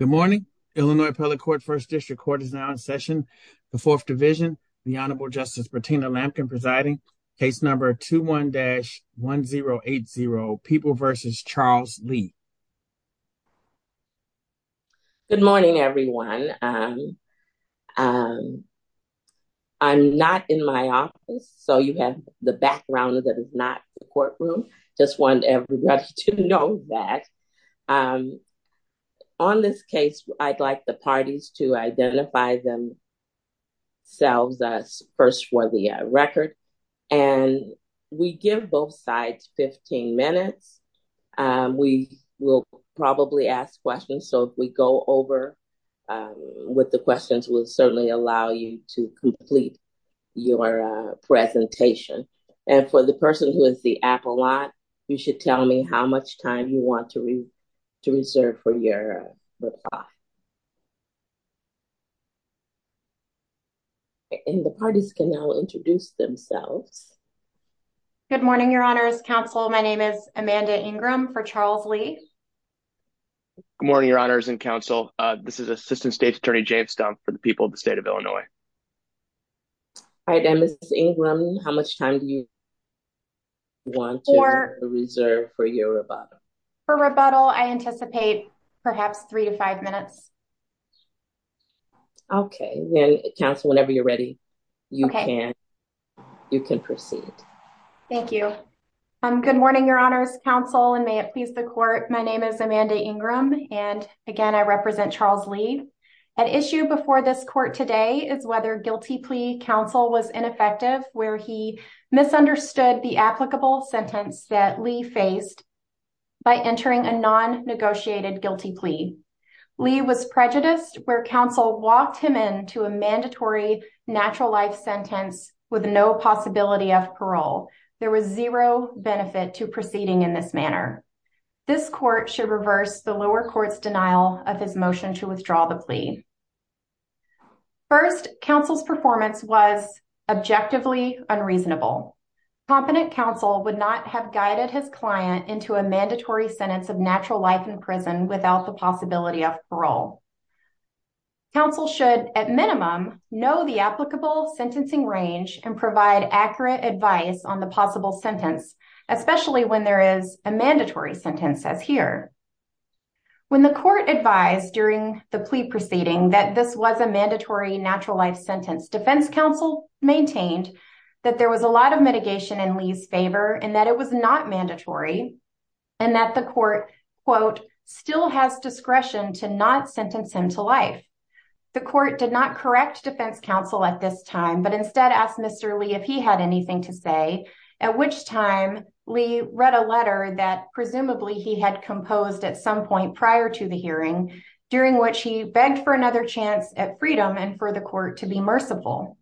Good morning, Illinois Public Court First District Court is now in session. The fourth division, the Honorable Justice Bertina Lampkin presiding case number 21 dash 1080 people versus Charles Lee. Good morning, everyone. I'm not in my office, so you have the background that is not the courtroom, just want everybody to know that on this case, I'd like the parties to identify themselves as first for the record. And we give both sides 15 minutes. We will probably ask questions. So if we go over with the questions will certainly allow you to complete your presentation. And for the person who is the apple lot, you should tell me how much time you want to. To reserve for your. And the parties can now introduce themselves. Good morning, your honors counsel. My name is Amanda Ingram for Charles Lee. Morning, your honors and counsel. This is Assistant State's Attorney James Stumpf for the people of the state of Illinois. How much time do you want to reserve for your rebuttal for rebuttal I anticipate, perhaps three to five minutes. Okay, whenever you're ready. You can you can proceed. Thank you. Good morning, your honors counsel and may it please the court. My name is Amanda Ingram, and again I represent Charles Lee an issue before this court today is whether guilty plea counsel was ineffective, where he misunderstood the applicable sentence that Lee faced by entering a non negotiated guilty plea. Lee was prejudiced where counsel walked him into a mandatory natural life sentence with no possibility of parole. There was zero benefit to proceeding in this manner. This court should reverse the lower courts denial of his motion to withdraw the plea. First, counsel's performance was objectively unreasonable. Competent counsel would not have guided his client into a mandatory sentence of natural life in prison without the possibility of parole. Counsel should, at minimum, know the applicable sentencing range and provide accurate advice on the possible sentence, especially when there is a mandatory sentence as here. When the court advised during the plea proceeding that this was a mandatory natural life sentence defense counsel maintained that there was a lot of mitigation in Lee's favor and that it was not mandatory. And that the court quote still has discretion to not sentence him to life. The court did not correct defense counsel at this time but instead asked Mr. Lee if he had anything to say, at which time we read a letter that presumably he had composed at some point prior to the hearing, during which he begged for another chance at freedom and for the court to be merciful.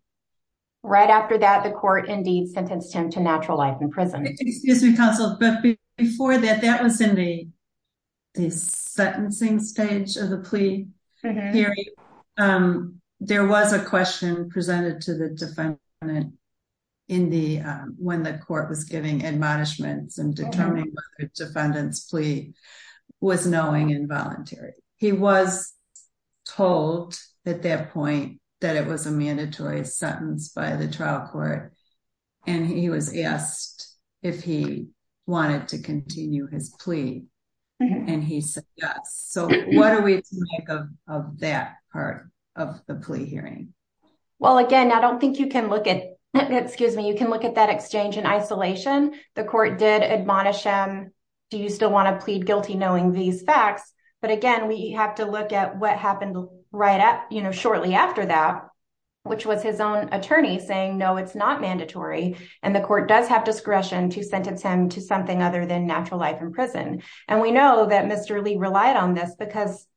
Right after that, the court indeed sentenced him to natural life in prison. Excuse me, counsel, but before that, that was in the sentencing stage of the plea hearing. There was a question presented to the defendant when the court was giving admonishments and determining whether the defendant's plea was knowing involuntary. He was told at that point that it was a mandatory sentence by the trial court, and he was asked if he wanted to continue his plea. And he said yes. So, what do we think of that part of the plea hearing. Well, again, I don't think you can look at, excuse me, you can look at that exchange in isolation. The court did admonish him. Do you still want to plead guilty knowing these facts. But again, we have to look at what happened right up, you know, shortly after that, which was his own attorney saying no, it's not mandatory. And the court does have discretion to sentence him to something other than natural life in prison. And we know that Mr. Lee relied on this because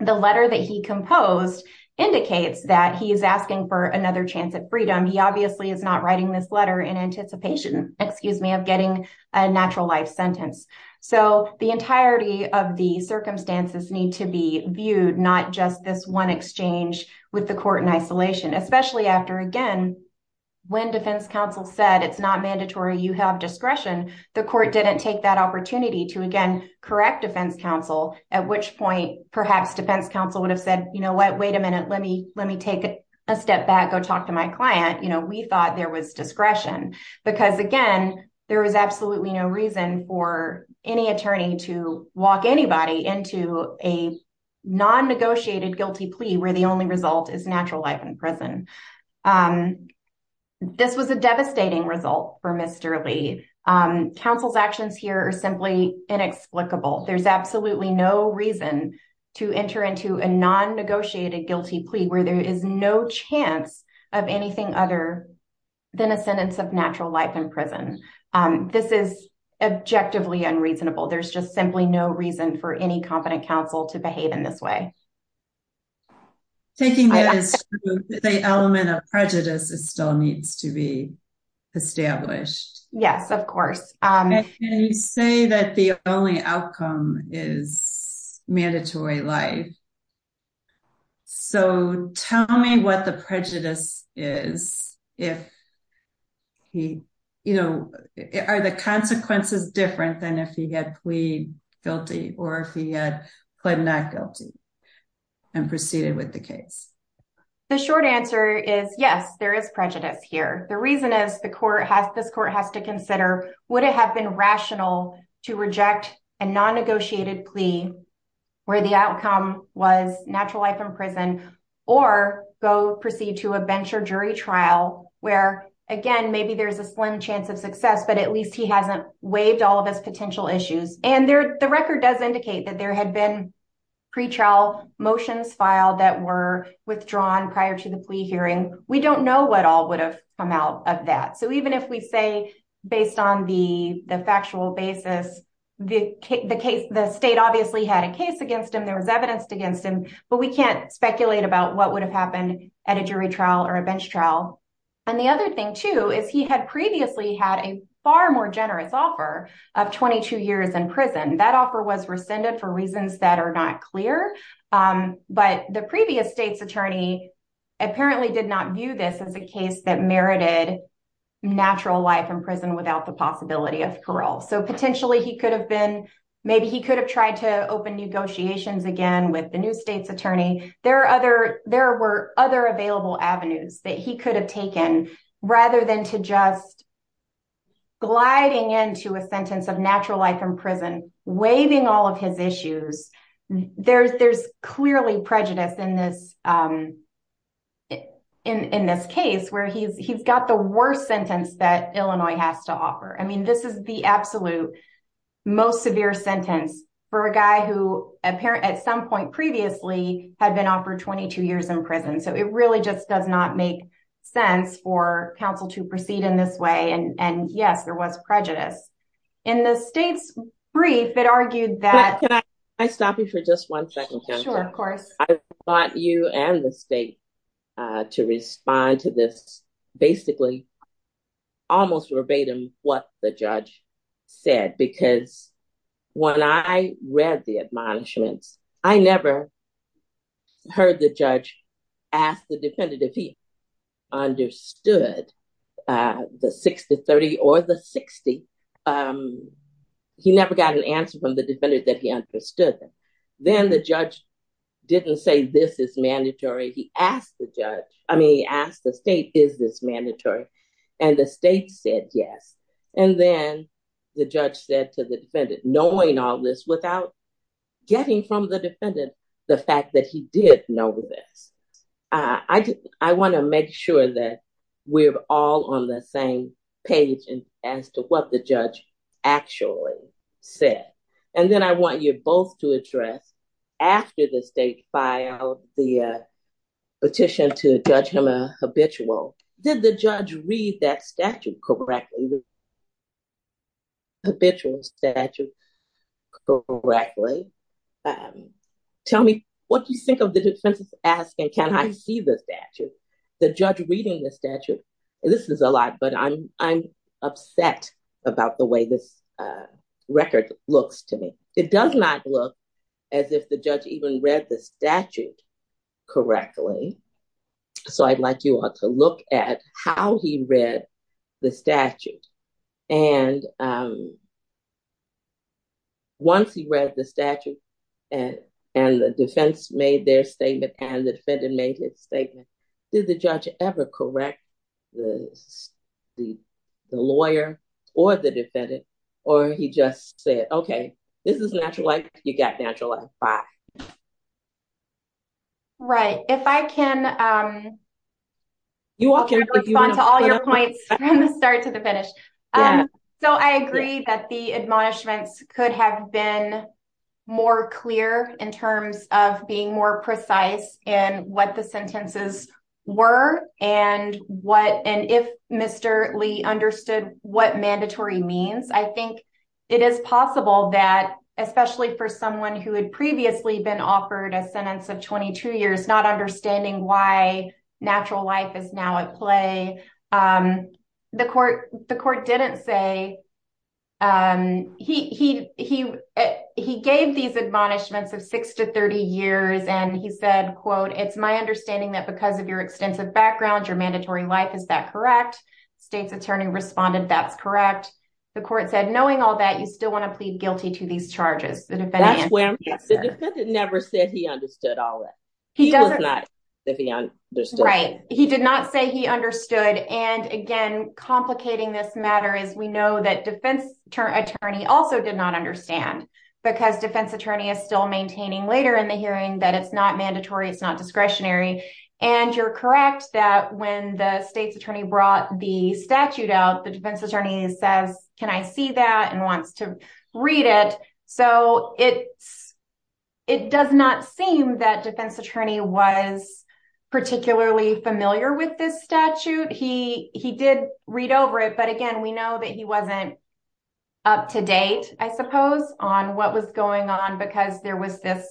the letter that he composed indicates that he is asking for another chance at freedom. He obviously is not writing this letter in anticipation, excuse me, of getting a natural life sentence. So, the entirety of the circumstances need to be viewed, not just this one exchange with the court in isolation. Especially after, again, when defense counsel said it's not mandatory, you have discretion. The court didn't take that opportunity to, again, correct defense counsel. At which point, perhaps defense counsel would have said, you know what, wait a minute, let me let me take a step back, go talk to my client. You know, we thought there was discretion because, again, there was absolutely no reason for any attorney to walk anybody into a non-negotiated guilty plea where the only result is natural life in prison. This was a devastating result for Mr. Lee. Counsel's actions here are simply inexplicable. There's absolutely no reason to enter into a non-negotiated guilty plea where there is no chance of anything other than a sentence of natural life in prison. This is objectively unreasonable. There's just simply no reason for any competent counsel to behave in this way. Taking that as truth, the element of prejudice still needs to be established. Yes, of course. And you say that the only outcome is mandatory life. So tell me what the prejudice is, if he, you know, are the consequences different than if he had plead guilty or if he had pled not guilty and proceeded with the case? The short answer is yes, there is prejudice here. The reason is this court has to consider would it have been rational to reject a non-negotiated plea where the outcome was natural life in prison or go proceed to a bench or jury trial where, again, maybe there's a slim chance of success, but at least he hasn't waived all of his potential issues. And the record does indicate that there had been pretrial motions filed that were withdrawn prior to the plea hearing. We don't know what all would have come out of that. So even if we say based on the factual basis, the state obviously had a case against him, there was evidence against him, but we can't speculate about what would have happened at a jury trial or a bench trial. And the other thing, too, is he had previously had a far more generous offer of 22 years in prison. That offer was rescinded for reasons that are not clear, but the previous state's attorney apparently did not view this as a case that merited natural life in prison without the possibility of parole. So potentially he could have been maybe he could have tried to open negotiations again with the new state's attorney. There were other available avenues that he could have taken rather than to just gliding into a sentence of natural life in prison, waiving all of his issues. There's clearly prejudice in this case where he's got the worst sentence that Illinois has to offer. I mean, this is the absolute most severe sentence for a guy who apparently at some point previously had been offered 22 years in prison. So it really just does not make sense for counsel to proceed in this way. And yes, there was prejudice in the state's brief. It argued that I stop you for just one second. I want you and the state to respond to this basically almost verbatim what the judge said, because when I read the admonishments, I never heard the judge ask the defendant if he understood the 60-30 or the 60. He never got an answer from the defendant that he understood. Then the judge didn't say this is mandatory. He asked the judge. I mean, he asked the state, is this mandatory? And the state said yes. And then the judge said to the defendant, knowing all this without getting from the defendant the fact that he did know this. I want to make sure that we're all on the same page as to what the judge actually said. And then I want you both to address after the state filed the petition to judge him a habitual. Did the judge read that statute correctly? Tell me what you think of the defense's asking, can I see the statute? The judge reading the statute? This is a lot, but I'm upset about the way this record looks to me. It does not look as if the judge even read the statute correctly. So I'd like you all to look at how he read the statute. And once he read the statute and the defense made their statement and the defendant made his statement, did the judge ever correct the lawyer or the defendant? Or he just said, okay, this is natural life. You got natural life. Right. If I can. You all can respond to all your points from the start to the finish. So I agree that the admonishments could have been more clear in terms of being more precise and what the sentences were and what and if Mr. Lee understood what mandatory means. I think it is possible that, especially for someone who had previously been offered a sentence of 22 years, not understanding why natural life is now at play. The court, the court didn't say he, he, he, he gave these admonishments of 6 to 30 years. And he said, quote, it's my understanding that because of your extensive background, your mandatory life. Is that correct? States attorney responded. That's correct. The court said, knowing all that, you still want to plead guilty to these charges. The defendant never said he understood all that. He does not. Right. He did not say he understood. And again, complicating this matter is we know that defense attorney also did not understand because defense attorney is still maintaining later in the hearing that it's not mandatory. It's not discretionary. And you're correct that when the state's attorney brought the statute out, the defense attorney says, can I see that and wants to read it? So, it's, it does not seem that defense attorney was particularly familiar with this statute. He, he did read over it. But again, we know that he wasn't. Up to date, I suppose, on what was going on, because there was this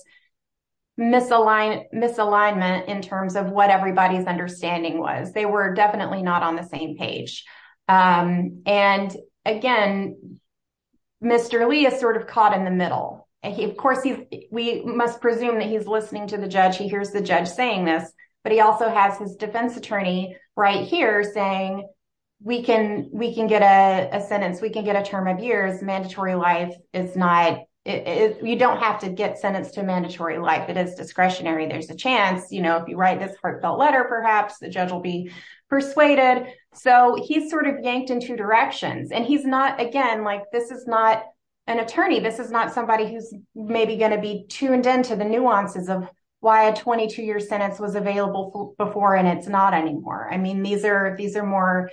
misaligned misalignment in terms of what everybody's understanding was they were definitely not on the same page. And again, Mr. Lee is sort of caught in the middle. And he, of course, he, we must presume that he's listening to the judge. He hears the judge saying this, but he also has his defense attorney right here saying. We can, we can get a sentence. We can get a term of years. Mandatory life is not, you don't have to get sentenced to mandatory life. It is discretionary. There's a chance, you know, if you write this heartfelt letter, perhaps the judge will be persuaded. So, he's sort of yanked in two directions. And he's not, again, like, this is not an attorney. This is not somebody who's maybe going to be tuned into the nuances of why a 22 year sentence was available before and it's not anymore. I mean, these are these are more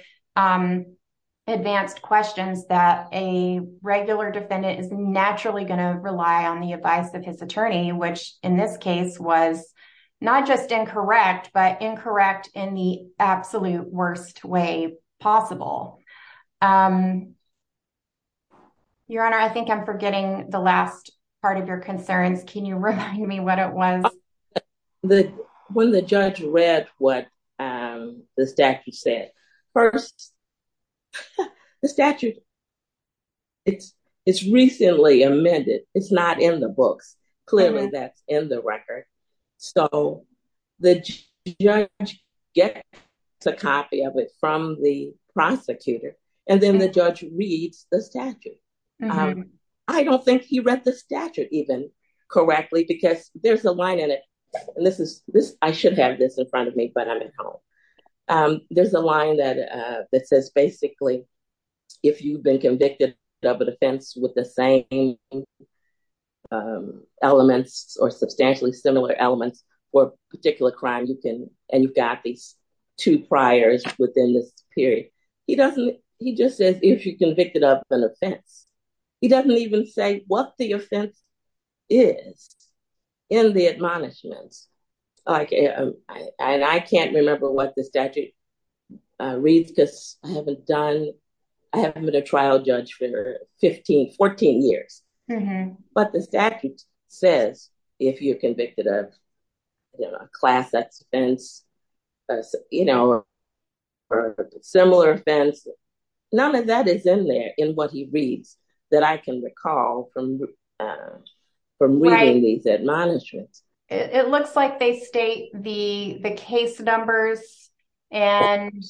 advanced questions that a regular defendant is naturally going to rely on the advice of his attorney, which in this case was not just incorrect, but incorrect in the absolute worst way possible. Your Honor, I think I'm forgetting the last part of your concerns. Can you remind me what it was? When the judge read what the statute said. First, the statute, it's, it's recently amended. It's not in the books. Clearly, that's in the record. So, the judge gets a copy of it from the prosecutor, and then the judge reads the statute. I don't think he read the statute even correctly, because there's a line in it. And this is this, I should have this in front of me, but I'm at home. There's a line that that says, basically, if you've been convicted of an offense with the same elements or substantially similar elements or particular crime, you can, and you've got these two priors within this period. He just says, if you're convicted of an offense. He doesn't even say what the offense is in the admonishments. And I can't remember what the statute reads because I haven't done, I haven't been a trial judge for 15, 14 years. But the statute says, if you're convicted of a class X offense, you know, or a similar offense, none of that is in there in what he reads that I can recall from reading these admonishments. It looks like they state the case numbers, and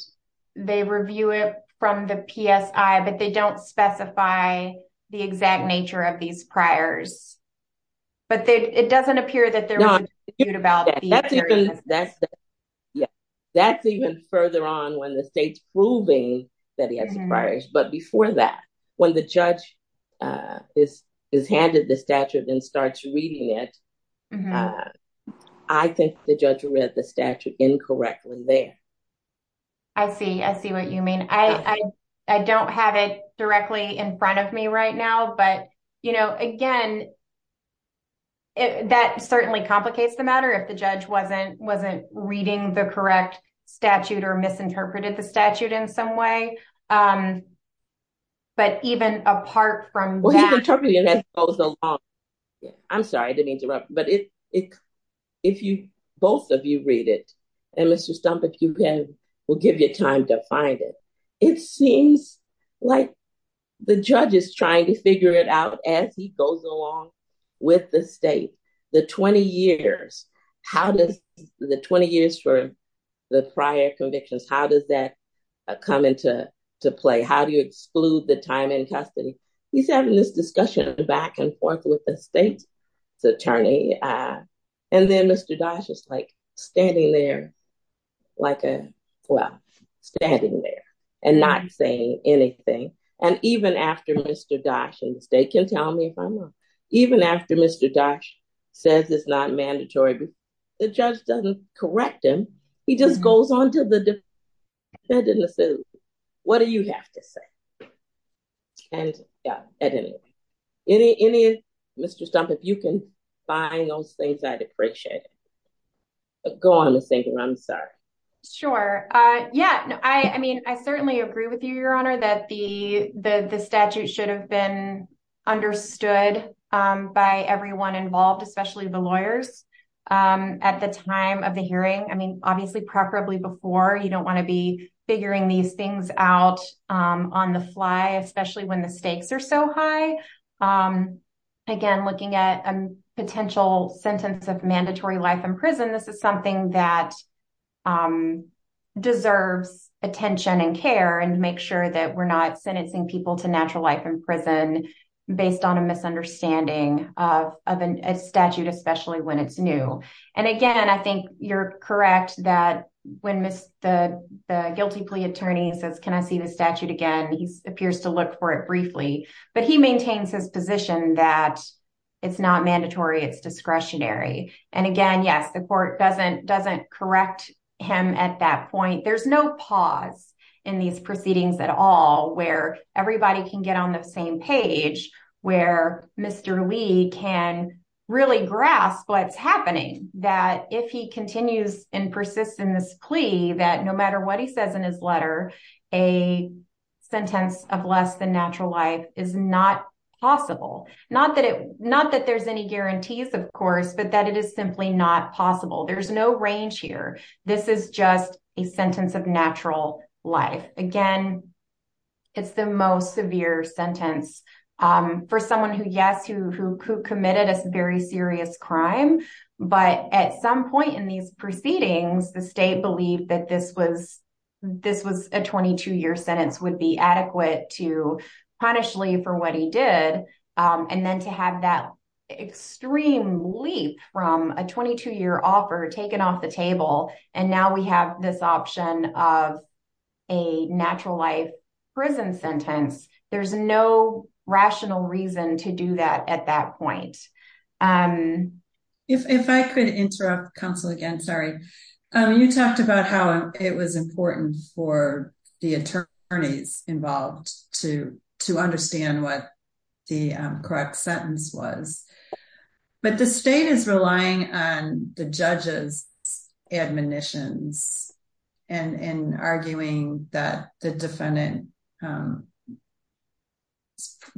they review it from the PSI, but they don't specify the exact nature of these priors. I see, I see what you mean. I, I don't have it directly in front of me right now. But, you know, again, it's not that I don't have it in front of me. And that certainly complicates the matter if the judge wasn't wasn't reading the correct statute or misinterpreted the statute in some way. But even apart from that, I'm sorry, I didn't interrupt. But if, if you both of you read it, and Mr. Stump, if you can, we'll give you time to find it. It seems like the judge is trying to figure it out as he goes along with the state. The 20 years, how does the 20 years for the prior convictions, how does that come into play? How do you exclude the time in custody? He's having this discussion back and forth with the state's attorney. And then Mr. Dasch is like, standing there, like a, well, standing there and not saying anything. And even after Mr. Dasch, and the state can tell me if I'm wrong, even after Mr. Dasch says it's not mandatory, the judge doesn't correct him. He just goes on to the defendant and says, what do you have to say? And at any rate, any, any, Mr. Stump, if you can find those things I'd appreciate it. Go on, Ms. Singer, I'm sorry. Sure. Yeah, I mean, I certainly agree with you, Your Honor, that the statute should have been understood by everyone involved, especially the lawyers. At the time of the hearing, I mean, obviously, preferably before, you don't want to be figuring these things out on the fly, especially when the stakes are so high. Again, looking at a potential sentence of mandatory life in prison, this is something that deserves attention and care and make sure that we're not sentencing people to natural life in prison based on a misunderstanding of a statute, especially when it's new. And again, I think you're correct that when the guilty plea attorney says, can I see the statute again, he appears to look for it briefly, but he maintains his position that it's not mandatory, it's discretionary. And again, yes, the court doesn't correct him at that point. There's no pause in these proceedings at all where everybody can get on the same page, where Mr. Lee can really grasp what's happening, that if he continues and persists in this plea, that no matter what he says in his letter, a sentence of less than natural life is not possible. Not that there's any guarantees, of course, but that it is simply not possible. There's no range here. This is just a sentence of natural life. Again, it's the most severe sentence for someone who, yes, who committed a very serious crime. But at some point in these proceedings, the state believed that this was a 22-year sentence would be adequate to punish Lee for what he did. And then to have that extreme leap from a 22-year offer taken off the table, and now we have this option of a natural life prison sentence, there's no rational reason to do that at that point. If I could interrupt counsel again, sorry. You talked about how it was important for the attorneys involved to understand what the correct sentence was. But the state is relying on the judge's admonitions and arguing that the defendant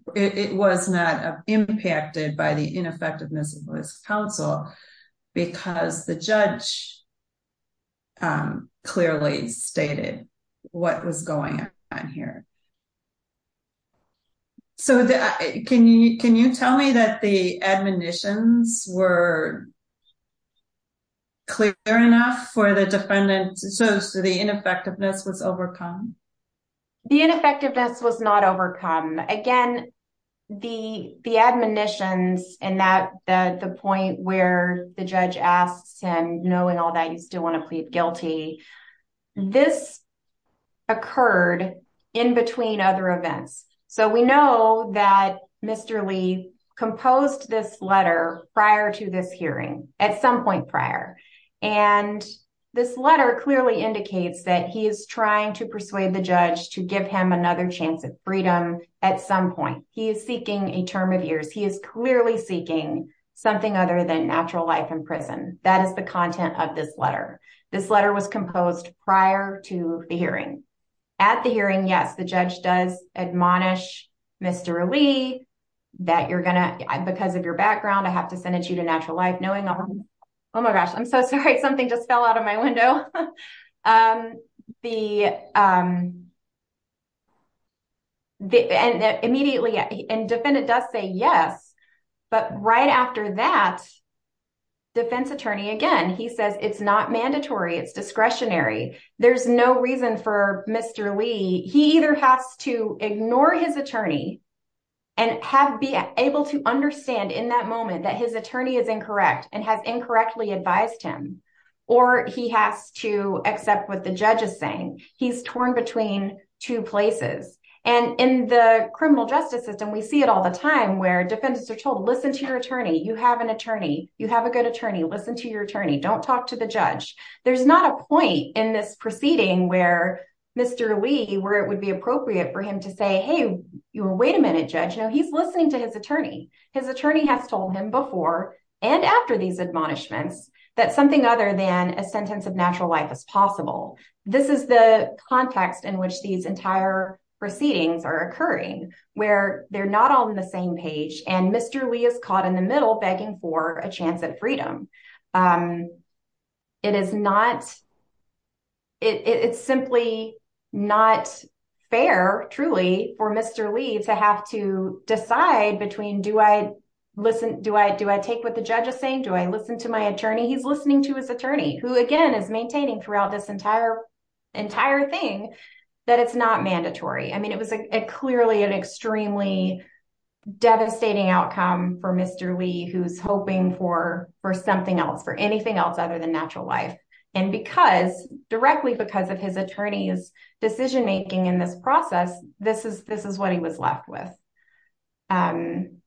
was not impacted by the ineffectiveness of this counsel because the judge clearly stated what was going on here. So can you tell me that the admonitions were clear enough for the defendant so the ineffectiveness was overcome? The ineffectiveness was not overcome. Again, the admonitions and the point where the judge asks him, knowing all that, you still want to plead guilty, this occurred in between other events. So we know that Mr. Lee composed this letter prior to this hearing, at some point prior, and this letter clearly indicates that he is trying to persuade the judge to give him another chance at freedom at some point. He is seeking a term of years. He is clearly seeking something other than natural life in prison. That is the content of this letter. This letter was composed prior to the hearing. At the hearing, yes, the judge does admonish Mr. Lee that you're going to, because of your background, I have to sentence you to natural life, knowing all that. Oh my gosh, I'm so sorry, something just fell out of my window. Immediately, and defendant does say yes, but right after that, defense attorney, again, he says it's not mandatory. It's discretionary. There's no reason for Mr. Lee. He either has to ignore his attorney and be able to understand in that moment that his attorney is incorrect and has incorrectly advised him, or he has to accept what the judge is saying. He's torn between two places. And in the criminal justice system, we see it all the time where defendants are told, listen to your attorney. You have an attorney. You have a good attorney. Listen to your attorney. Don't talk to the judge. There's not a point in this proceeding where Mr. Lee, where it would be appropriate for him to say, hey, wait a minute, judge, he's listening to his attorney. His attorney has told him before and after these admonishments that something other than a sentence of natural life is possible. This is the context in which these entire proceedings are occurring, where they're not on the same page and Mr. Lee is caught in the middle begging for a chance at freedom. It's simply not fair, truly, for Mr. Lee to have to decide between, do I take what the judge is saying? Do I listen to my attorney? He's listening to his attorney, who, again, is maintaining throughout this entire thing that it's not mandatory. I mean, it was clearly an extremely devastating outcome for Mr. Lee, who's hoping for something else, for anything else other than natural life. And because, directly because of his attorney's decision making in this process, this is what he was left with. And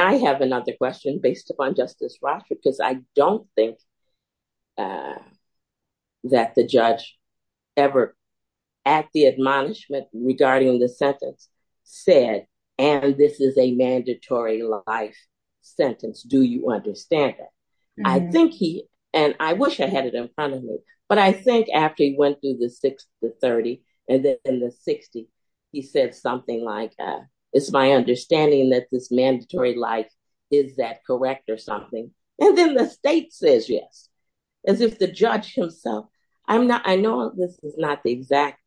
I have another question based upon Justice Rocha, because I don't think that the judge ever, at the admonishment regarding the sentence, said, and this is a mandatory life sentence. Do you understand that? I think he, and I wish I had it in front of me, but I think after he went through the 6 to 30, and then the 60, he said something like, it's my understanding that this mandatory life, is that correct or something? And then the state says yes, as if the judge himself, I'm not, I know this is not the exact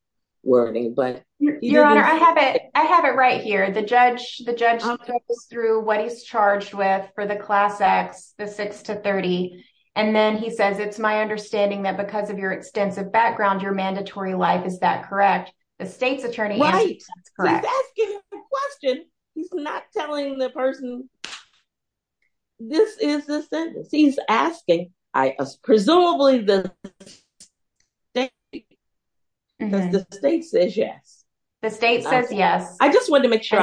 wording, but. Your Honor, I have it right here. The judge goes through what he's charged with for the Class X, the 6 to 30, and then he says, it's my understanding that because of your extensive background, your mandatory life, is that correct? The state's attorney answers, it's correct. He's asking a question. He's not telling the person, this is the sentence he's asking. Presumably, the state says yes. The state says yes. I just wanted to make sure.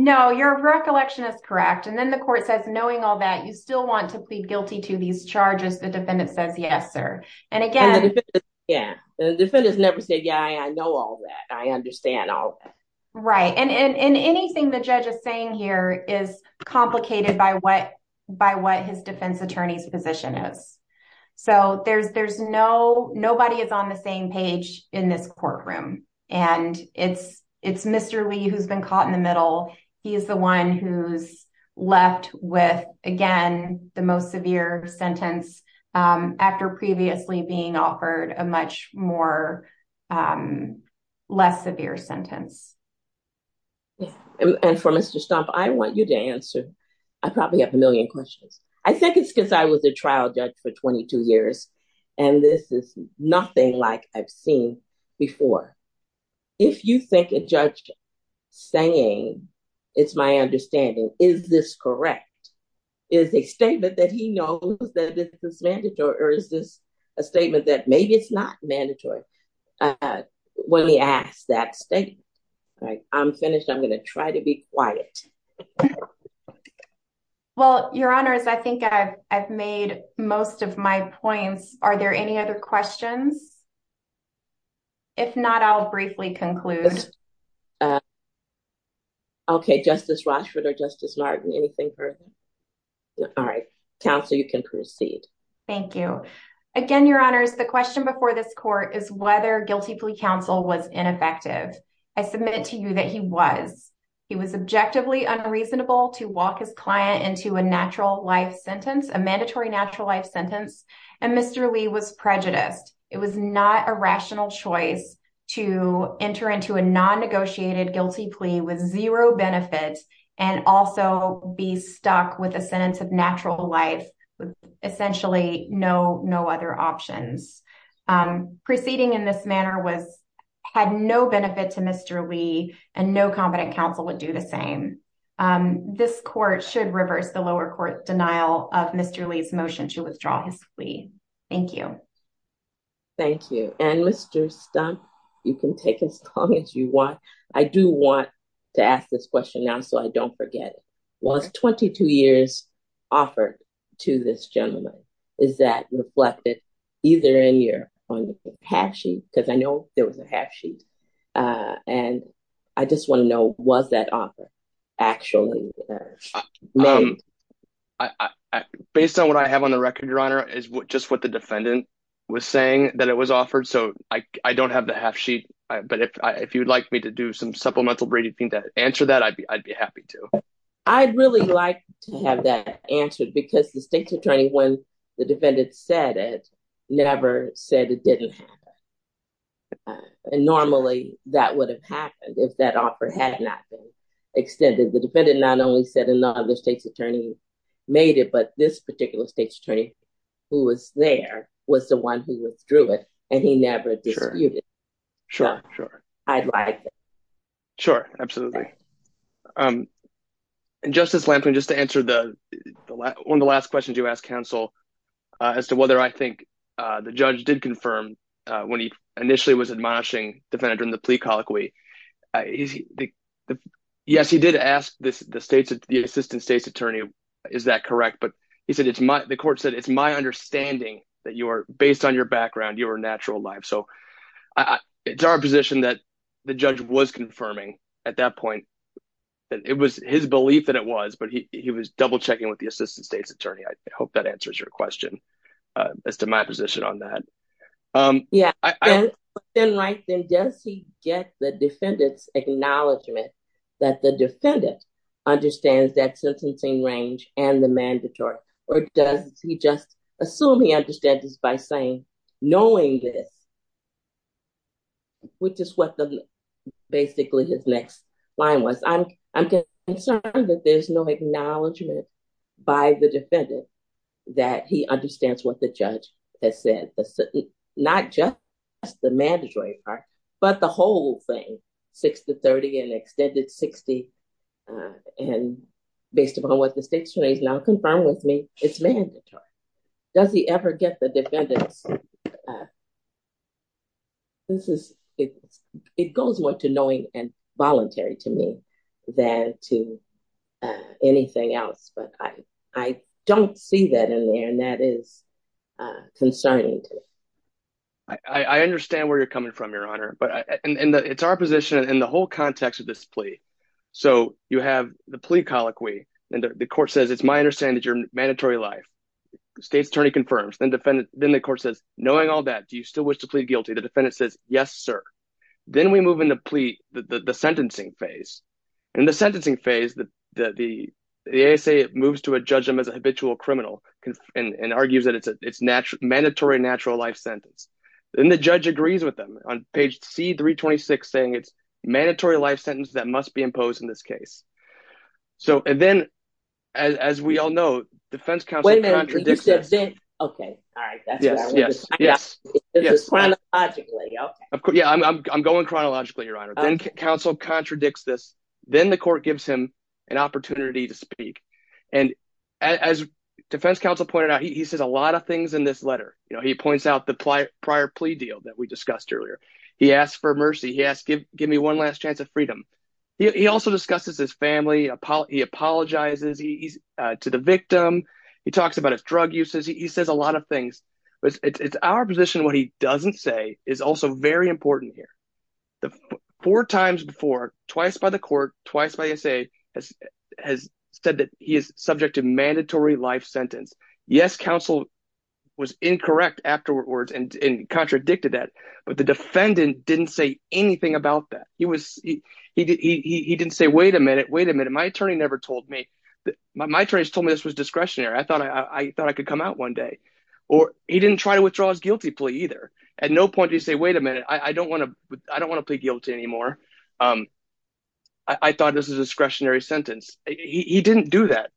No, your recollection is correct. And then the court says, knowing all that, you still want to plead guilty to these charges. The defendant says, yes, sir. And again. The defendants never said, yeah, I know all that. I understand all that. Right. And anything the judge is saying here is complicated by what his defense attorney's position is. So there's no, nobody is on the same page in this courtroom. And it's Mr. Lee who's been caught in the middle. He is the one who's left with, again, the most severe sentence after previously being offered a much more, less severe sentence. And for Mr. Stumpf, I want you to answer. I probably have a million questions. I think it's because I was a trial judge for 22 years, and this is nothing like I've seen before. If you think a judge saying, it's my understanding, is this correct? Is a statement that he knows that this is mandatory? Or is this a statement that maybe it's not mandatory when he asks that statement? I'm finished. I'm going to try to be quiet. Well, Your Honors, I think I've made most of my points. Are there any other questions? If not, I'll briefly conclude. Okay. Justice Rochford or Justice Martin, anything further? All right. Counsel, you can proceed. Thank you. Again, Your Honors, the question before this court is whether guilty plea counsel was ineffective. I submit to you that he was. He was objectively unreasonable to walk his client into a natural life sentence, a mandatory natural life sentence, and Mr. Lee was prejudiced. It was not a rational choice to enter into a non-negotiated guilty plea with zero benefit and also be stuck with a sentence of natural life with essentially no other options. Proceeding in this manner had no benefit to Mr. Lee and no competent counsel would do the same. This court should reverse the lower court's denial of Mr. Lee's motion to withdraw his plea. Thank you. Thank you. And Mr. Stump, you can take as long as you want. I do want to ask this question now so I don't forget. Was 22 years offered to this gentleman? Is that reflected either in your half-sheet? Because I know there was a half-sheet. And I just want to know, was that offer actually made? Based on what I have on the record, Your Honor, is just what the defendant was saying, that it was offered. So I don't have the half-sheet, but if you'd like me to do some supplemental reading to answer that, I'd be happy to. I'd really like to have that answered because the state's attorney, when the defendant said it, never said it didn't happen. And normally that would have happened if that offer had not been extended. The defendant not only said another state's attorney made it, but this particular state's attorney who was there was the one who withdrew it and he never disputed it. Sure, sure. I'd like that. Sure, absolutely. And Justice Lampkin, just to answer one of the last questions you asked counsel as to whether I think the judge did confirm when he initially was admonishing the defendant in the plea colloquy. Yes, he did ask the assistant state's attorney, is that correct? But he said, the court said, it's my understanding that based on your background, you were natural alive. So it's our position that the judge was confirming at that point. It was his belief that it was, but he was double-checking with the assistant state's attorney. I hope that answers your question as to my position on that. Yeah, then does he get the defendant's acknowledgement that the defendant understands that sentencing range and the mandatory? Or does he just assume he understands this by saying, knowing this, which is what basically his next line was. I'm concerned that there's no acknowledgement by the defendant that he understands what the judge has said. Not just the mandatory part, but the whole thing, 6 to 30 and extended 60. And based upon what the state's attorney has now confirmed with me, it's mandatory. Does he ever get the defendant's? It goes more to knowing and voluntary to me than to anything else. But I don't see that in there, and that is concerning to me. I understand where you're coming from, Your Honor. But it's our position in the whole context of this plea. So you have the plea colloquy, and the court says, it's my understanding that your mandatory life. State's attorney confirms. Then the court says, knowing all that, do you still wish to plead guilty? The defendant says, yes, sir. Then we move into the sentencing phase. In the sentencing phase, the ASA moves to judge him as a habitual criminal and argues that it's a mandatory natural life sentence. Then the judge agrees with them on page C-326, saying it's a mandatory life sentence that must be imposed in this case. And then, as we all know, defense counsel contradicts this. Wait a minute. OK. All right. That's what I wanted to say. Chronologically, OK. Yeah, I'm going chronologically, Your Honor. Then counsel contradicts this. Then the court gives him an opportunity to speak. And as defense counsel pointed out, he says a lot of things in this letter. He points out the prior plea deal that we discussed earlier. He asks for mercy. He asks, give me one last chance at freedom. He also discusses his family. He apologizes to the victim. He talks about his drug uses. He says a lot of things. It's our position what he doesn't say is also very important here. Four times before, twice by the court, twice by ASA, has said that he is subject to mandatory life sentence. Yes, counsel was incorrect afterwards and contradicted that. But the defendant didn't say anything about that. He didn't say, wait a minute, wait a minute. My attorney never told me. My attorney has told me this was discretionary. I thought I could come out one day. Or he didn't try to withdraw his guilty plea either. At no point did he say, wait a minute. I don't want to plead guilty anymore. I thought this was a discretionary sentence. He didn't do that.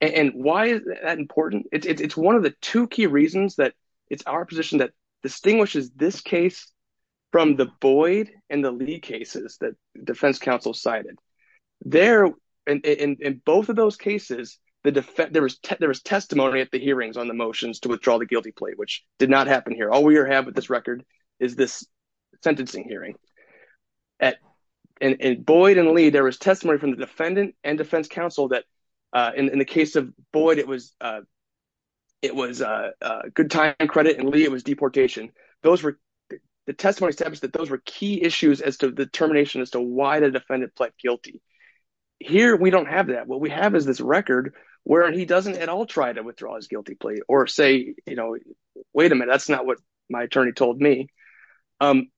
And why is that important? It's one of the two key reasons that it's our position that distinguishes this case from the Boyd and the Lee cases that defense counsel cited. There, in both of those cases, there was testimony at the hearings on the motions to withdraw the guilty plea, which did not happen here. All we have with this record is this sentencing hearing. And Boyd and Lee, there was testimony from the defendant and defense counsel that in the case of Boyd, it was a good time credit. And Lee, it was deportation. The testimony established that those were key issues as to the determination as to why the defendant pled guilty. Here, we don't have that. What we have is this record where he doesn't at all try to withdraw his guilty plea or say, you know, wait a minute. That's not what my attorney told me. And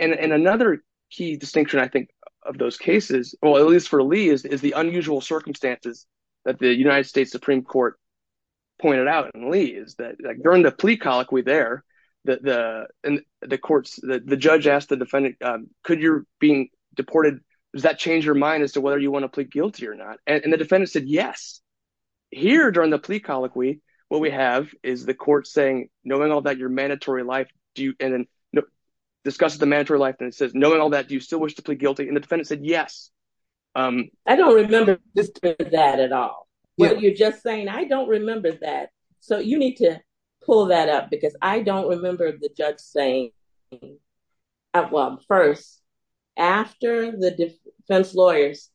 another key distinction, I think, of those cases, at least for Lee, is the unusual circumstances that the United States Supreme Court pointed out in Lee. During the plea colloquy there, the judge asked the defendant, could you be deported? Does that change your mind as to whether you want to plead guilty or not? And the defendant said yes. Here, during the plea colloquy, what we have is the court saying, knowing all that, your mandatory life, discuss the mandatory life. And it says, knowing all that, do you still wish to plead guilty? And the defendant said yes. I don't remember that at all. What you're just saying, I don't remember that. So you need to pull that up because I don't remember the judge saying, well, first, after the defense lawyers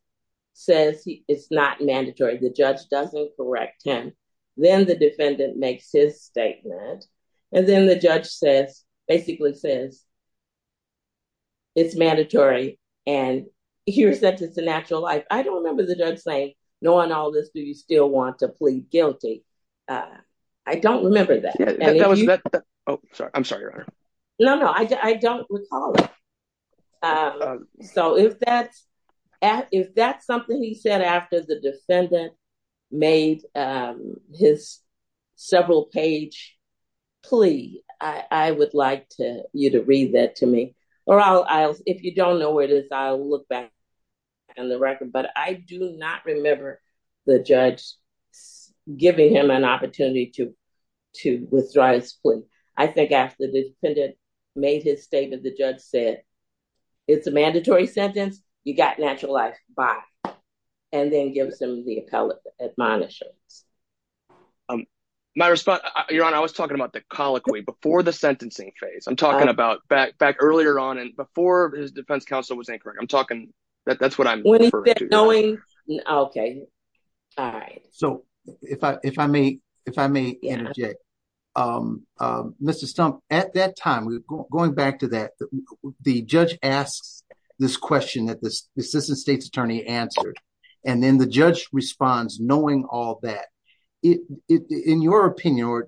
says it's not mandatory. The judge doesn't correct him. Then the defendant makes his statement. And then the judge says, basically says it's mandatory. And here's that it's a natural life. I don't remember the judge saying, knowing all this, do you still want to plead guilty? I don't remember that. Oh, I'm sorry, Your Honor. No, no, I don't recall it. So if that's if that's something he said after the defendant made his several page plea, I would like you to read that to me. Or I'll if you don't know where it is, I'll look back in the record. But I do not remember the judge giving him an opportunity to to withdraw his plea. I think after the defendant made his statement, the judge said it's a mandatory sentence. You got naturalized by and then give some of the appellate admonishments. My response, Your Honor, I was talking about the colloquy before the sentencing phase. I'm talking about back back earlier on and before his defense counsel was incorrect. I'm talking that that's what I'm knowing. OK. So if I if I may, if I may interject, Mr. Stumpf, at that time, going back to that, the judge asks this question that this assistant state's attorney answered. And then the judge responds, knowing all that it in your opinion,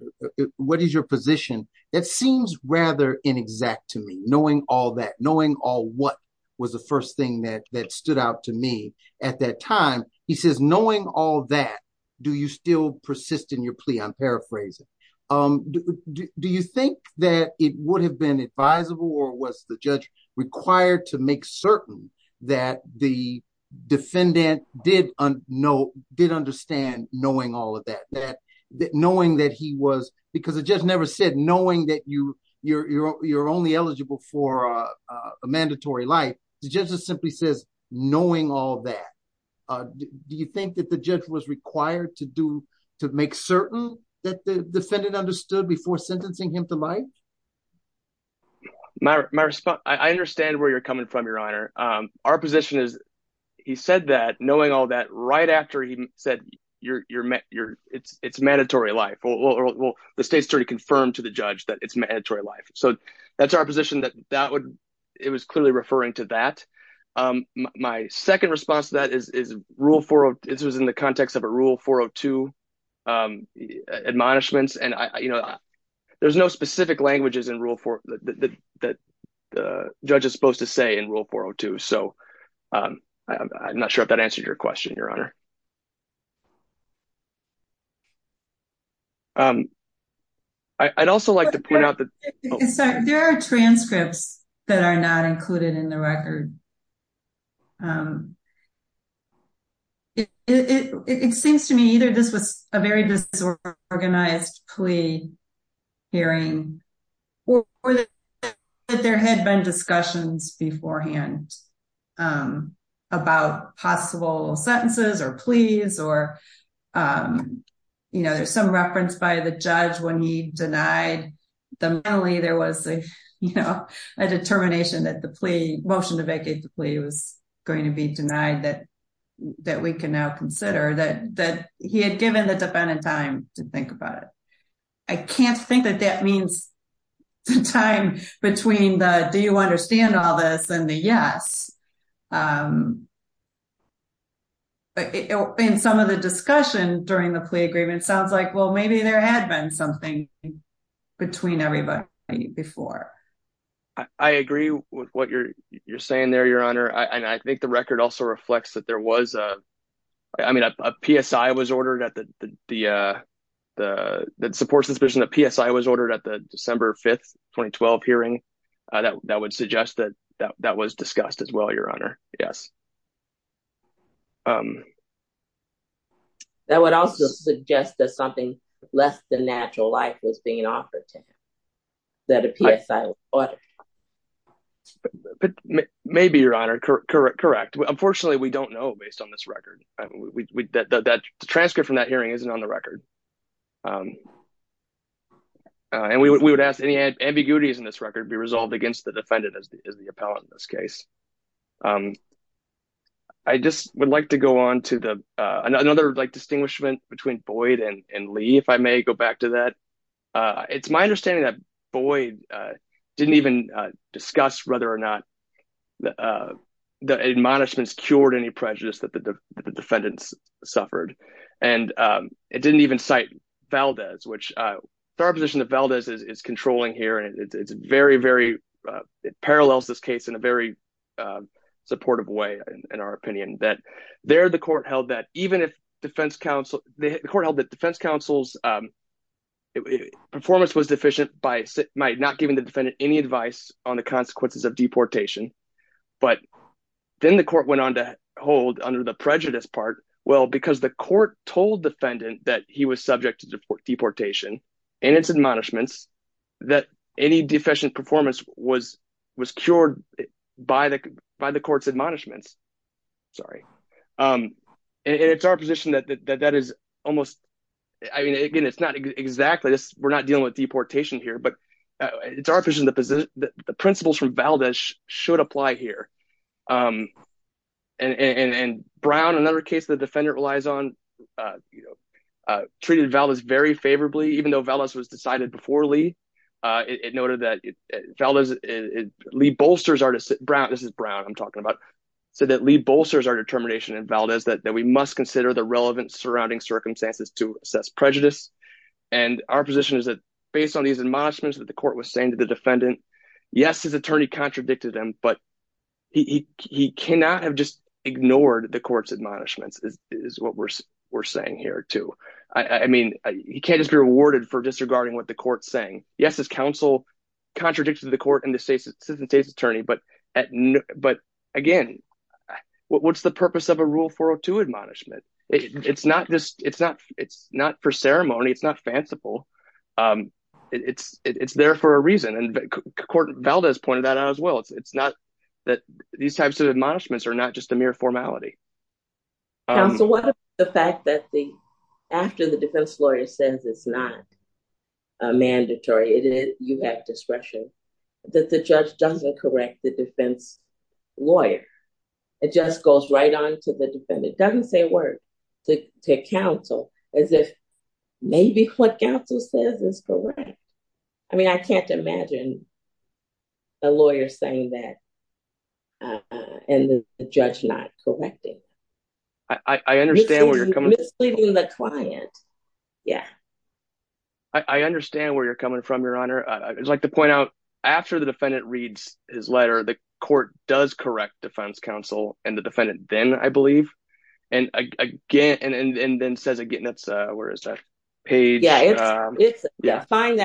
what is your position? It seems rather inexact to me, knowing all that, knowing all what was the first thing that that stood out to me at that time. He says, knowing all that, do you still persist in your plea? I'm paraphrasing. Do you think that it would have been advisable or was the judge required to make certain that the defendant did know, did understand knowing all of that, that knowing that he was because it just never said knowing that you you're you're only eligible for a mandatory life. The judge simply says, knowing all that, do you think that the judge was required to do to make certain that the defendant understood before sentencing him to life? My response, I understand where you're coming from, your honor. Our position is he said that knowing all that right after he said you're you're you're it's it's mandatory life. Well, the state's attorney confirmed to the judge that it's mandatory life. So that's our position that that would it was clearly referring to that. My second response to that is is rule for it was in the context of a rule for two admonishments. And, you know, there's no specific languages in rule for that the judge is supposed to say in rule for two. So I'm not sure if that answered your question, your honor. I'd also like to point out that there are transcripts that are not included in the record. It seems to me either this was a very disorganized plea hearing or that there had been discussions beforehand about possible sentences or pleas or, you know, there's some reference by the judge when he denied them. And finally, there was a, you know, a determination that the plea motion to vacate the plea was going to be denied that that we can now consider that that he had given the dependent time to think about it. I can't think that that means the time between the do you understand all this and the yes. In some of the discussion during the plea agreement sounds like, well, maybe there had been something between everybody before. I agree with what you're saying there, your honor. And I think the record also reflects that there was a. I mean, a PSI was ordered at the the the that supports this person, a PSI was ordered at the December 5th 2012 hearing that that would suggest that that that was discussed as well. Your honor. Yes. That would also suggest that something less than natural life was being offered. Maybe your honor. Correct. Correct. Correct. Unfortunately, we don't know, based on this record, that transcript from that hearing isn't on the record. And we would ask any ambiguities in this record be resolved against the defendant as the appellant in this case. I just would like to go on to another like distinguishment between Boyd and Lee, if I may go back to that. It's my understanding that Boyd didn't even discuss whether or not the admonishments cured any prejudice that the defendants suffered. And it didn't even cite Valdez, which our position of Valdez is controlling here. And it's very, very it parallels this case in a very supportive way, in our opinion, that there the court held that even if defense counsel, the court held that defense counsel's performance was deficient by not giving the defendant any advice on the consequences of deportation. But then the court went on to hold under the prejudice part. Well, because the court told defendant that he was subject to deportation and its admonishments that any deficient performance was was cured by the by the court's admonishments. Sorry. And it's our position that that is almost I mean, again, it's not exactly this. We're not dealing with deportation here, but it's our position that the principles from Valdez should apply here. And Brown, another case, the defendant relies on, you know, treated Valdez very favorably, even though Valdez was decided before Lee. It noted that Valdez Lee bolsters are to sit Brown. This is Brown. I'm talking about so that Lee bolsters our determination and Valdez that we must consider the relevant surrounding circumstances to assess prejudice. And our position is that based on these admonishments that the court was saying to the defendant, yes, his attorney contradicted him, but he cannot have just ignored the court's admonishments is what we're we're saying here, too. I mean, he can't just be rewarded for disregarding what the court's saying. Yes, his counsel contradicted the court and the state's assistant state's attorney. But, but, again, what's the purpose of a rule for to admonishment? It's not just it's not it's not for ceremony. It's not fanciful. It's it's there for a reason. And Valdez pointed that out as well. It's not that these types of admonishments are not just a mere formality. So what the fact that the after the defense lawyer says it's not mandatory, you have discretion that the judge doesn't correct the defense lawyer, it just goes right on to the defendant. It doesn't say a word to counsel as if maybe what counsel says is correct. I mean, I can't imagine a lawyer saying that and the judge not correcting. I understand where you're coming misleading the client. Yeah. I understand where you're coming from, Your Honor. I'd like to point out after the defendant reads his letter, the court does correct defense counsel and the defendant then, I believe, and again and then says again, that's where is that page? Yeah, it's fine.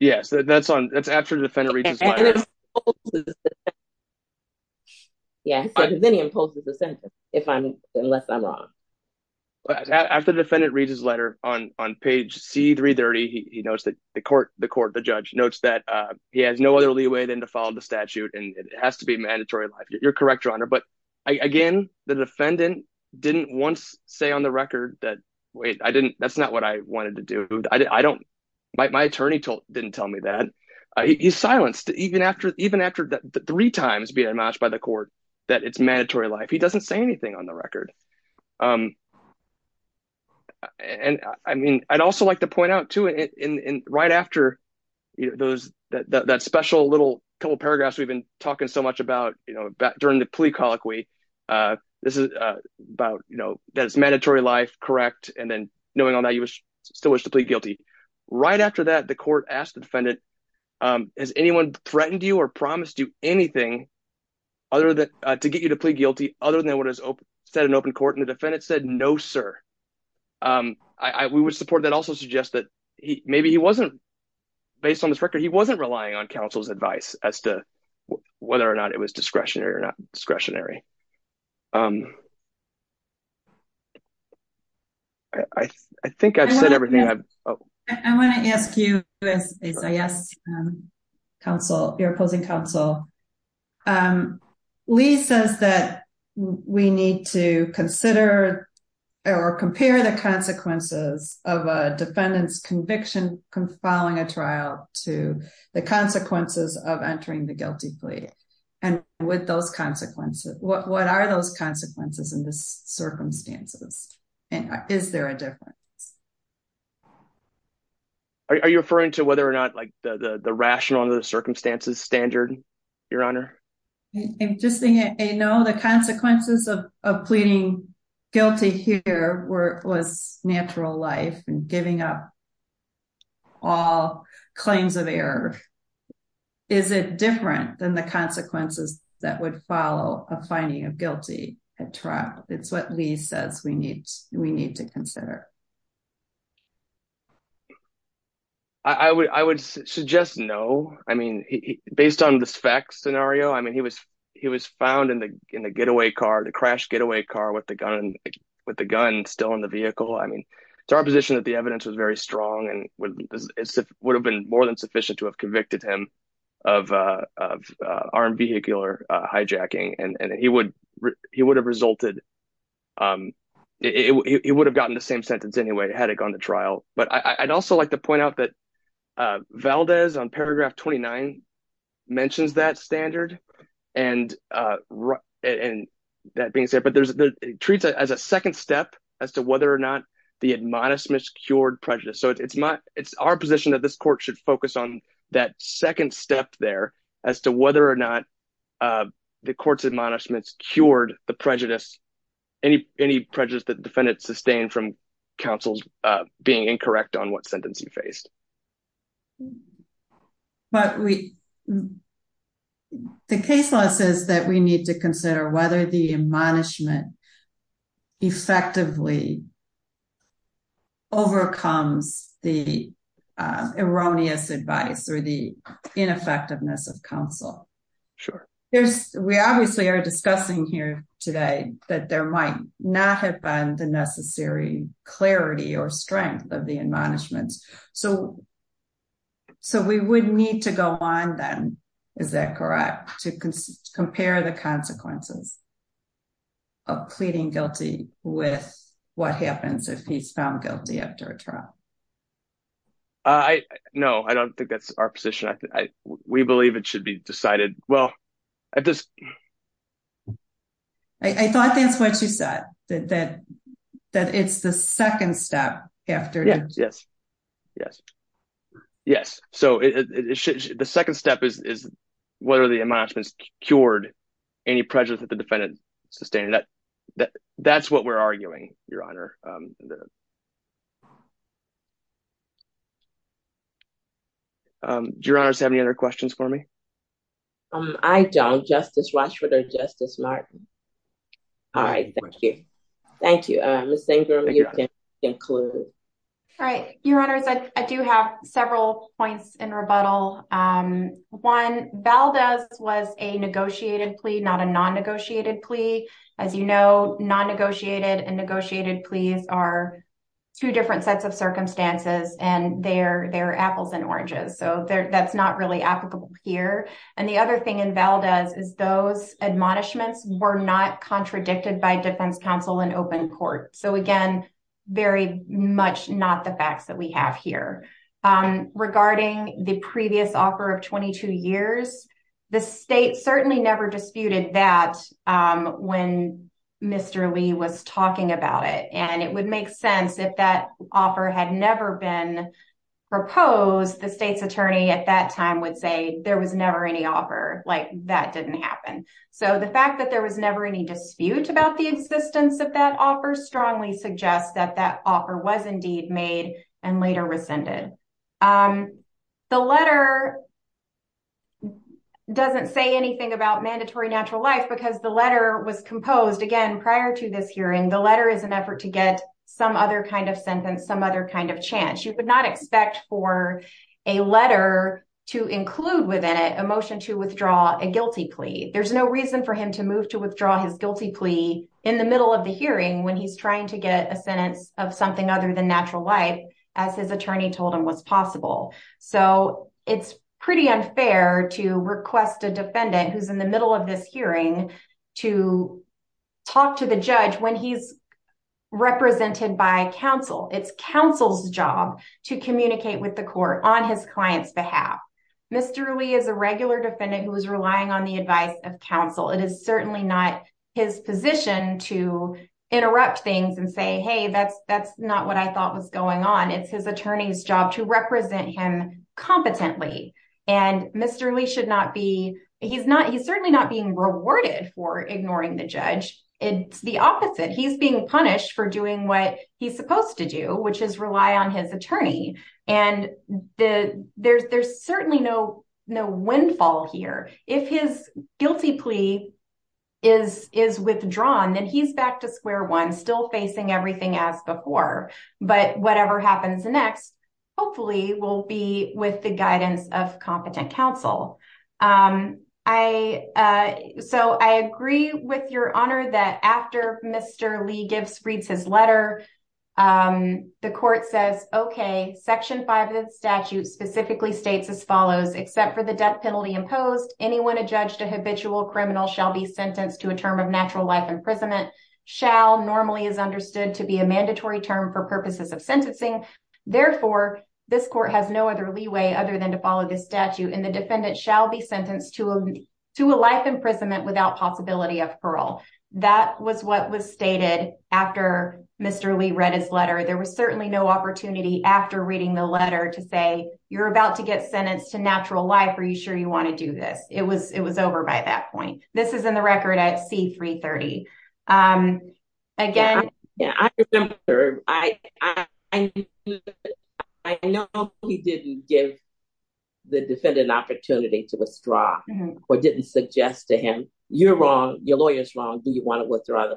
Yes, that's on. That's after the defendant reads his letter. Yeah. Then he imposes a sentence if I'm unless I'm wrong. After the defendant reads his letter on on page C330, he notes that the court, the court, the judge notes that he has no other leeway than to follow the statute. And it has to be mandatory. You're correct, Your Honor. But again, the defendant didn't once say on the record that, wait, I didn't that's not what I wanted to do. I don't my attorney didn't tell me that he silenced even after even after three times being matched by the court that it's mandatory life. He doesn't say anything on the record. And I mean, I'd also like to point out to it right after those that special little couple paragraphs we've been talking so much about during the plea colloquy. This is about, you know, that it's mandatory life. Correct. And then knowing all that, you still wish to plead guilty. Right after that, the court asked the defendant, has anyone threatened you or promised you anything other than to get you to plead guilty other than what is said in open court? And the defendant said, no, sir. I would support that also suggest that maybe he wasn't based on this record. He wasn't relying on counsel's advice as to whether or not it was discretionary or not discretionary. I think I've said everything I want to ask you. Yes. Counsel, your opposing counsel. Lee says that we need to consider or compare the consequences of a defendant's conviction following a trial to the consequences of entering the guilty plea. And with those consequences, what are those consequences in this circumstances? And is there a difference? Are you referring to whether or not, like the rational under the circumstances standard, your honor? I'm just saying, you know, the consequences of pleading guilty here were was natural life and giving up all claims of error. Is it different than the consequences that would follow a finding of guilty at trial? It's what Lee says we need. We need to consider. I would I would suggest no. I mean, based on this fact scenario, I mean, he was he was found in the in the getaway car, the crash getaway car with the gun and with the gun still in the vehicle. I mean, it's our position that the evidence was very strong and would have been more than sufficient to have convicted him of armed vehicular hijacking. And he would he would have resulted. It would have gotten the same sentence anyway, had it gone to trial. But I'd also like to point out that Valdez on paragraph twenty nine mentions that standard and and that being said, but there's it treats it as a second step as to whether or not the admonishments cured prejudice. So it's my it's our position that this court should focus on that second step there as to whether or not the court's admonishments cured the prejudice. Any any prejudice that defendants sustained from counsel's being incorrect on what sentence he faced. But we the case law says that we need to consider whether the admonishment effectively. Overcomes the erroneous advice or the ineffectiveness of counsel. Sure. There's we obviously are discussing here today that there might not have been the necessary clarity or strength of the admonishments. So. So we would need to go on then, is that correct? To compare the consequences. Of pleading guilty with what happens if he's found guilty after a trial. I know. I don't think that's our position. We believe it should be decided. Well, I just. I thought that's what you said, that that that it's the second step after. Yes. Yes. Yes. So the second step is, is whether the admonishments cured any prejudice that the defendant sustained. That that that's what we're arguing, Your Honor. Do you have any other questions for me? I don't. Justice Rashford or Justice Martin. All right. Thank you. Thank you. Miss Ingram, you can conclude. All right. Your Honor, I do have several points in rebuttal. One, Valdez was a negotiated plea, not a non-negotiated plea. As you know, non-negotiated and negotiated pleas are two different sets of circumstances. And they're they're apples and oranges. So that's not really applicable here. And the other thing in Valdez is those admonishments were not contradicted by defense counsel and open court. So, again, very much not the facts that we have here regarding the previous offer of 22 years. The state certainly never disputed that when Mr. Lee was talking about it. And it would make sense if that offer had never been proposed. The state's attorney at that time would say there was never any offer like that didn't happen. So the fact that there was never any dispute about the existence of that offer strongly suggests that that offer was indeed made and later rescinded. The letter doesn't say anything about mandatory natural life because the letter was composed again prior to this hearing. The letter is an effort to get some other kind of sentence, some other kind of chance. You would not expect for a letter to include within it a motion to withdraw a guilty plea. There's no reason for him to move to withdraw his guilty plea in the middle of the hearing when he's trying to get a sentence of something other than natural life, as his attorney told him was possible. So it's pretty unfair to request a defendant who's in the middle of this hearing to talk to the judge when he's represented by counsel. It's counsel's job to communicate with the court on his client's behalf. Mr. Lee is a regular defendant who is relying on the advice of counsel. It is certainly not his position to interrupt things and say, hey, that's not what I thought was going on. It's his attorney's job to represent him competently. And Mr. Lee should not be he's not he's certainly not being rewarded for ignoring the judge. It's the opposite. He's being punished for doing what he's supposed to do, which is rely on his attorney. And the there's there's certainly no no windfall here. If his guilty plea is is withdrawn, then he's back to square one, still facing everything as before. But whatever happens next, hopefully will be with the guidance of competent counsel. I so I agree with your honor that after Mr. Lee gives reads his letter, the court says, OK, section five of the statute specifically states as follows. Except for the death penalty imposed, anyone adjudged a habitual criminal shall be sentenced to a term of natural life. Imprisonment shall normally is understood to be a mandatory term for purposes of sentencing. Therefore, this court has no other leeway other than to follow the statute. And the defendant shall be sentenced to a to a life imprisonment without possibility of parole. That was what was stated after Mr. Lee read his letter. There was certainly no opportunity after reading the letter to say you're about to get sentenced to natural life. Are you sure you want to do this? It was it was over by that point. This is in the record at C-330. Again. Yeah, I remember. I know he didn't give the defendant an opportunity to withdraw or didn't suggest to him. You're wrong. Your lawyer's wrong. Do you want to withdraw?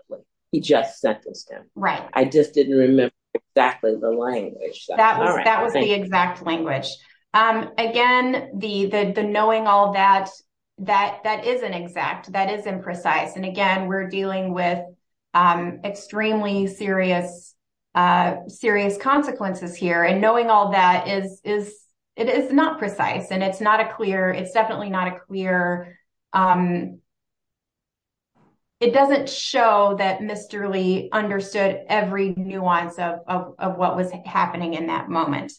He just sentenced him. Right. I just didn't remember exactly the language. That was that was the exact language. Again, the the knowing all that, that that isn't exact. That is imprecise. And again, we're dealing with extremely serious, serious consequences here. And knowing all that is is it is not precise and it's not a clear it's definitely not a clear. It doesn't show that Mr. Lee understood every nuance of what was happening in that moment.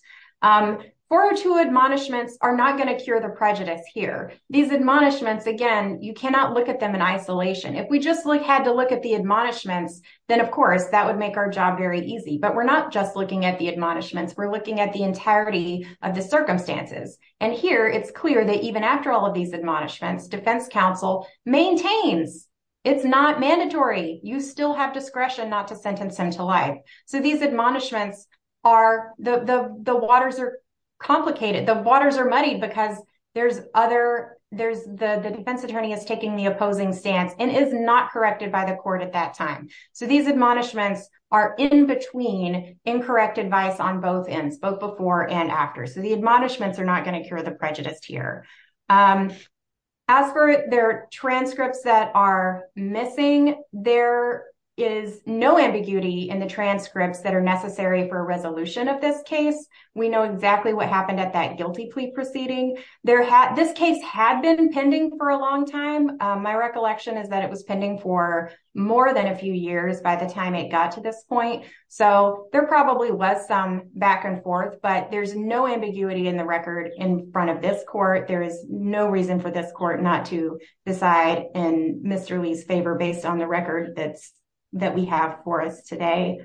Four or two admonishments are not going to cure the prejudice here. These admonishments, again, you cannot look at them in isolation. If we just had to look at the admonishments, then, of course, that would make our job very easy. But we're not just looking at the admonishments. We're looking at the entirety of the circumstances. And here it's clear that even after all of these admonishments, defense counsel maintains it's not mandatory. You still have discretion not to sentence him to life. So these admonishments are the the waters are complicated. The waters are muddy because there's other there's the defense attorney is taking the opposing stance and is not corrected by the court at that time. So these admonishments are in between incorrect advice on both ends, both before and after. So the admonishments are not going to cure the prejudice here. As for their transcripts that are missing, there is no ambiguity in the transcripts that are necessary for a resolution of this case. We know exactly what happened at that guilty plea proceeding there. This case had been pending for a long time. My recollection is that it was pending for more than a few years by the time it got to this point. So there probably was some back and forth, but there's no ambiguity in the record in front of this court. There is no reason for this court not to decide in Mr. Lee's favor based on the record that's that we have for us today.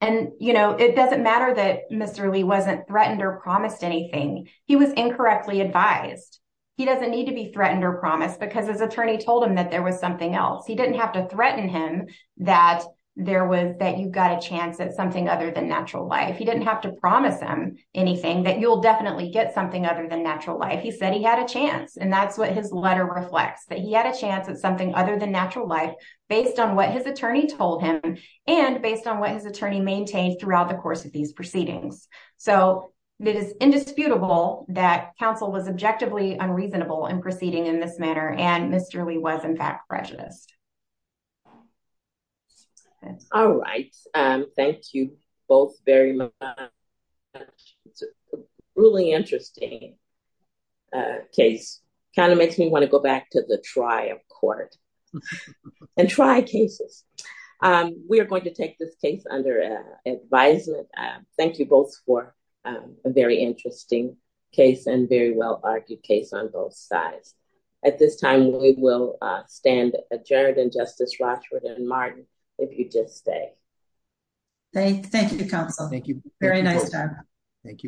And, you know, it doesn't matter that Mr. Lee wasn't threatened or promised anything. He was incorrectly advised. He doesn't need to be threatened or promised because his attorney told him that there was something else. He didn't have to threaten him that there was that you've got a chance at something other than natural life. He didn't have to promise him anything that you'll definitely get something other than natural life. He said he had a chance. And that's what his letter reflects, that he had a chance at something other than natural life based on what his attorney told him and based on what his attorney maintained throughout the course of these proceedings. So it is indisputable that counsel was objectively unreasonable in proceeding in this manner. And Mr. Lee was, in fact, prejudiced. All right. Thank you both very much. Really interesting. Case kind of makes me want to go back to the trial court and try cases. We are going to take this case under advisement. Thank you both for a very interesting case and very well argued case on both sides. At this time, we will stand adjourned. And Justice Rochford and Martin, if you just stay. Thank you, counsel. Thank you. Very nice. Thank you.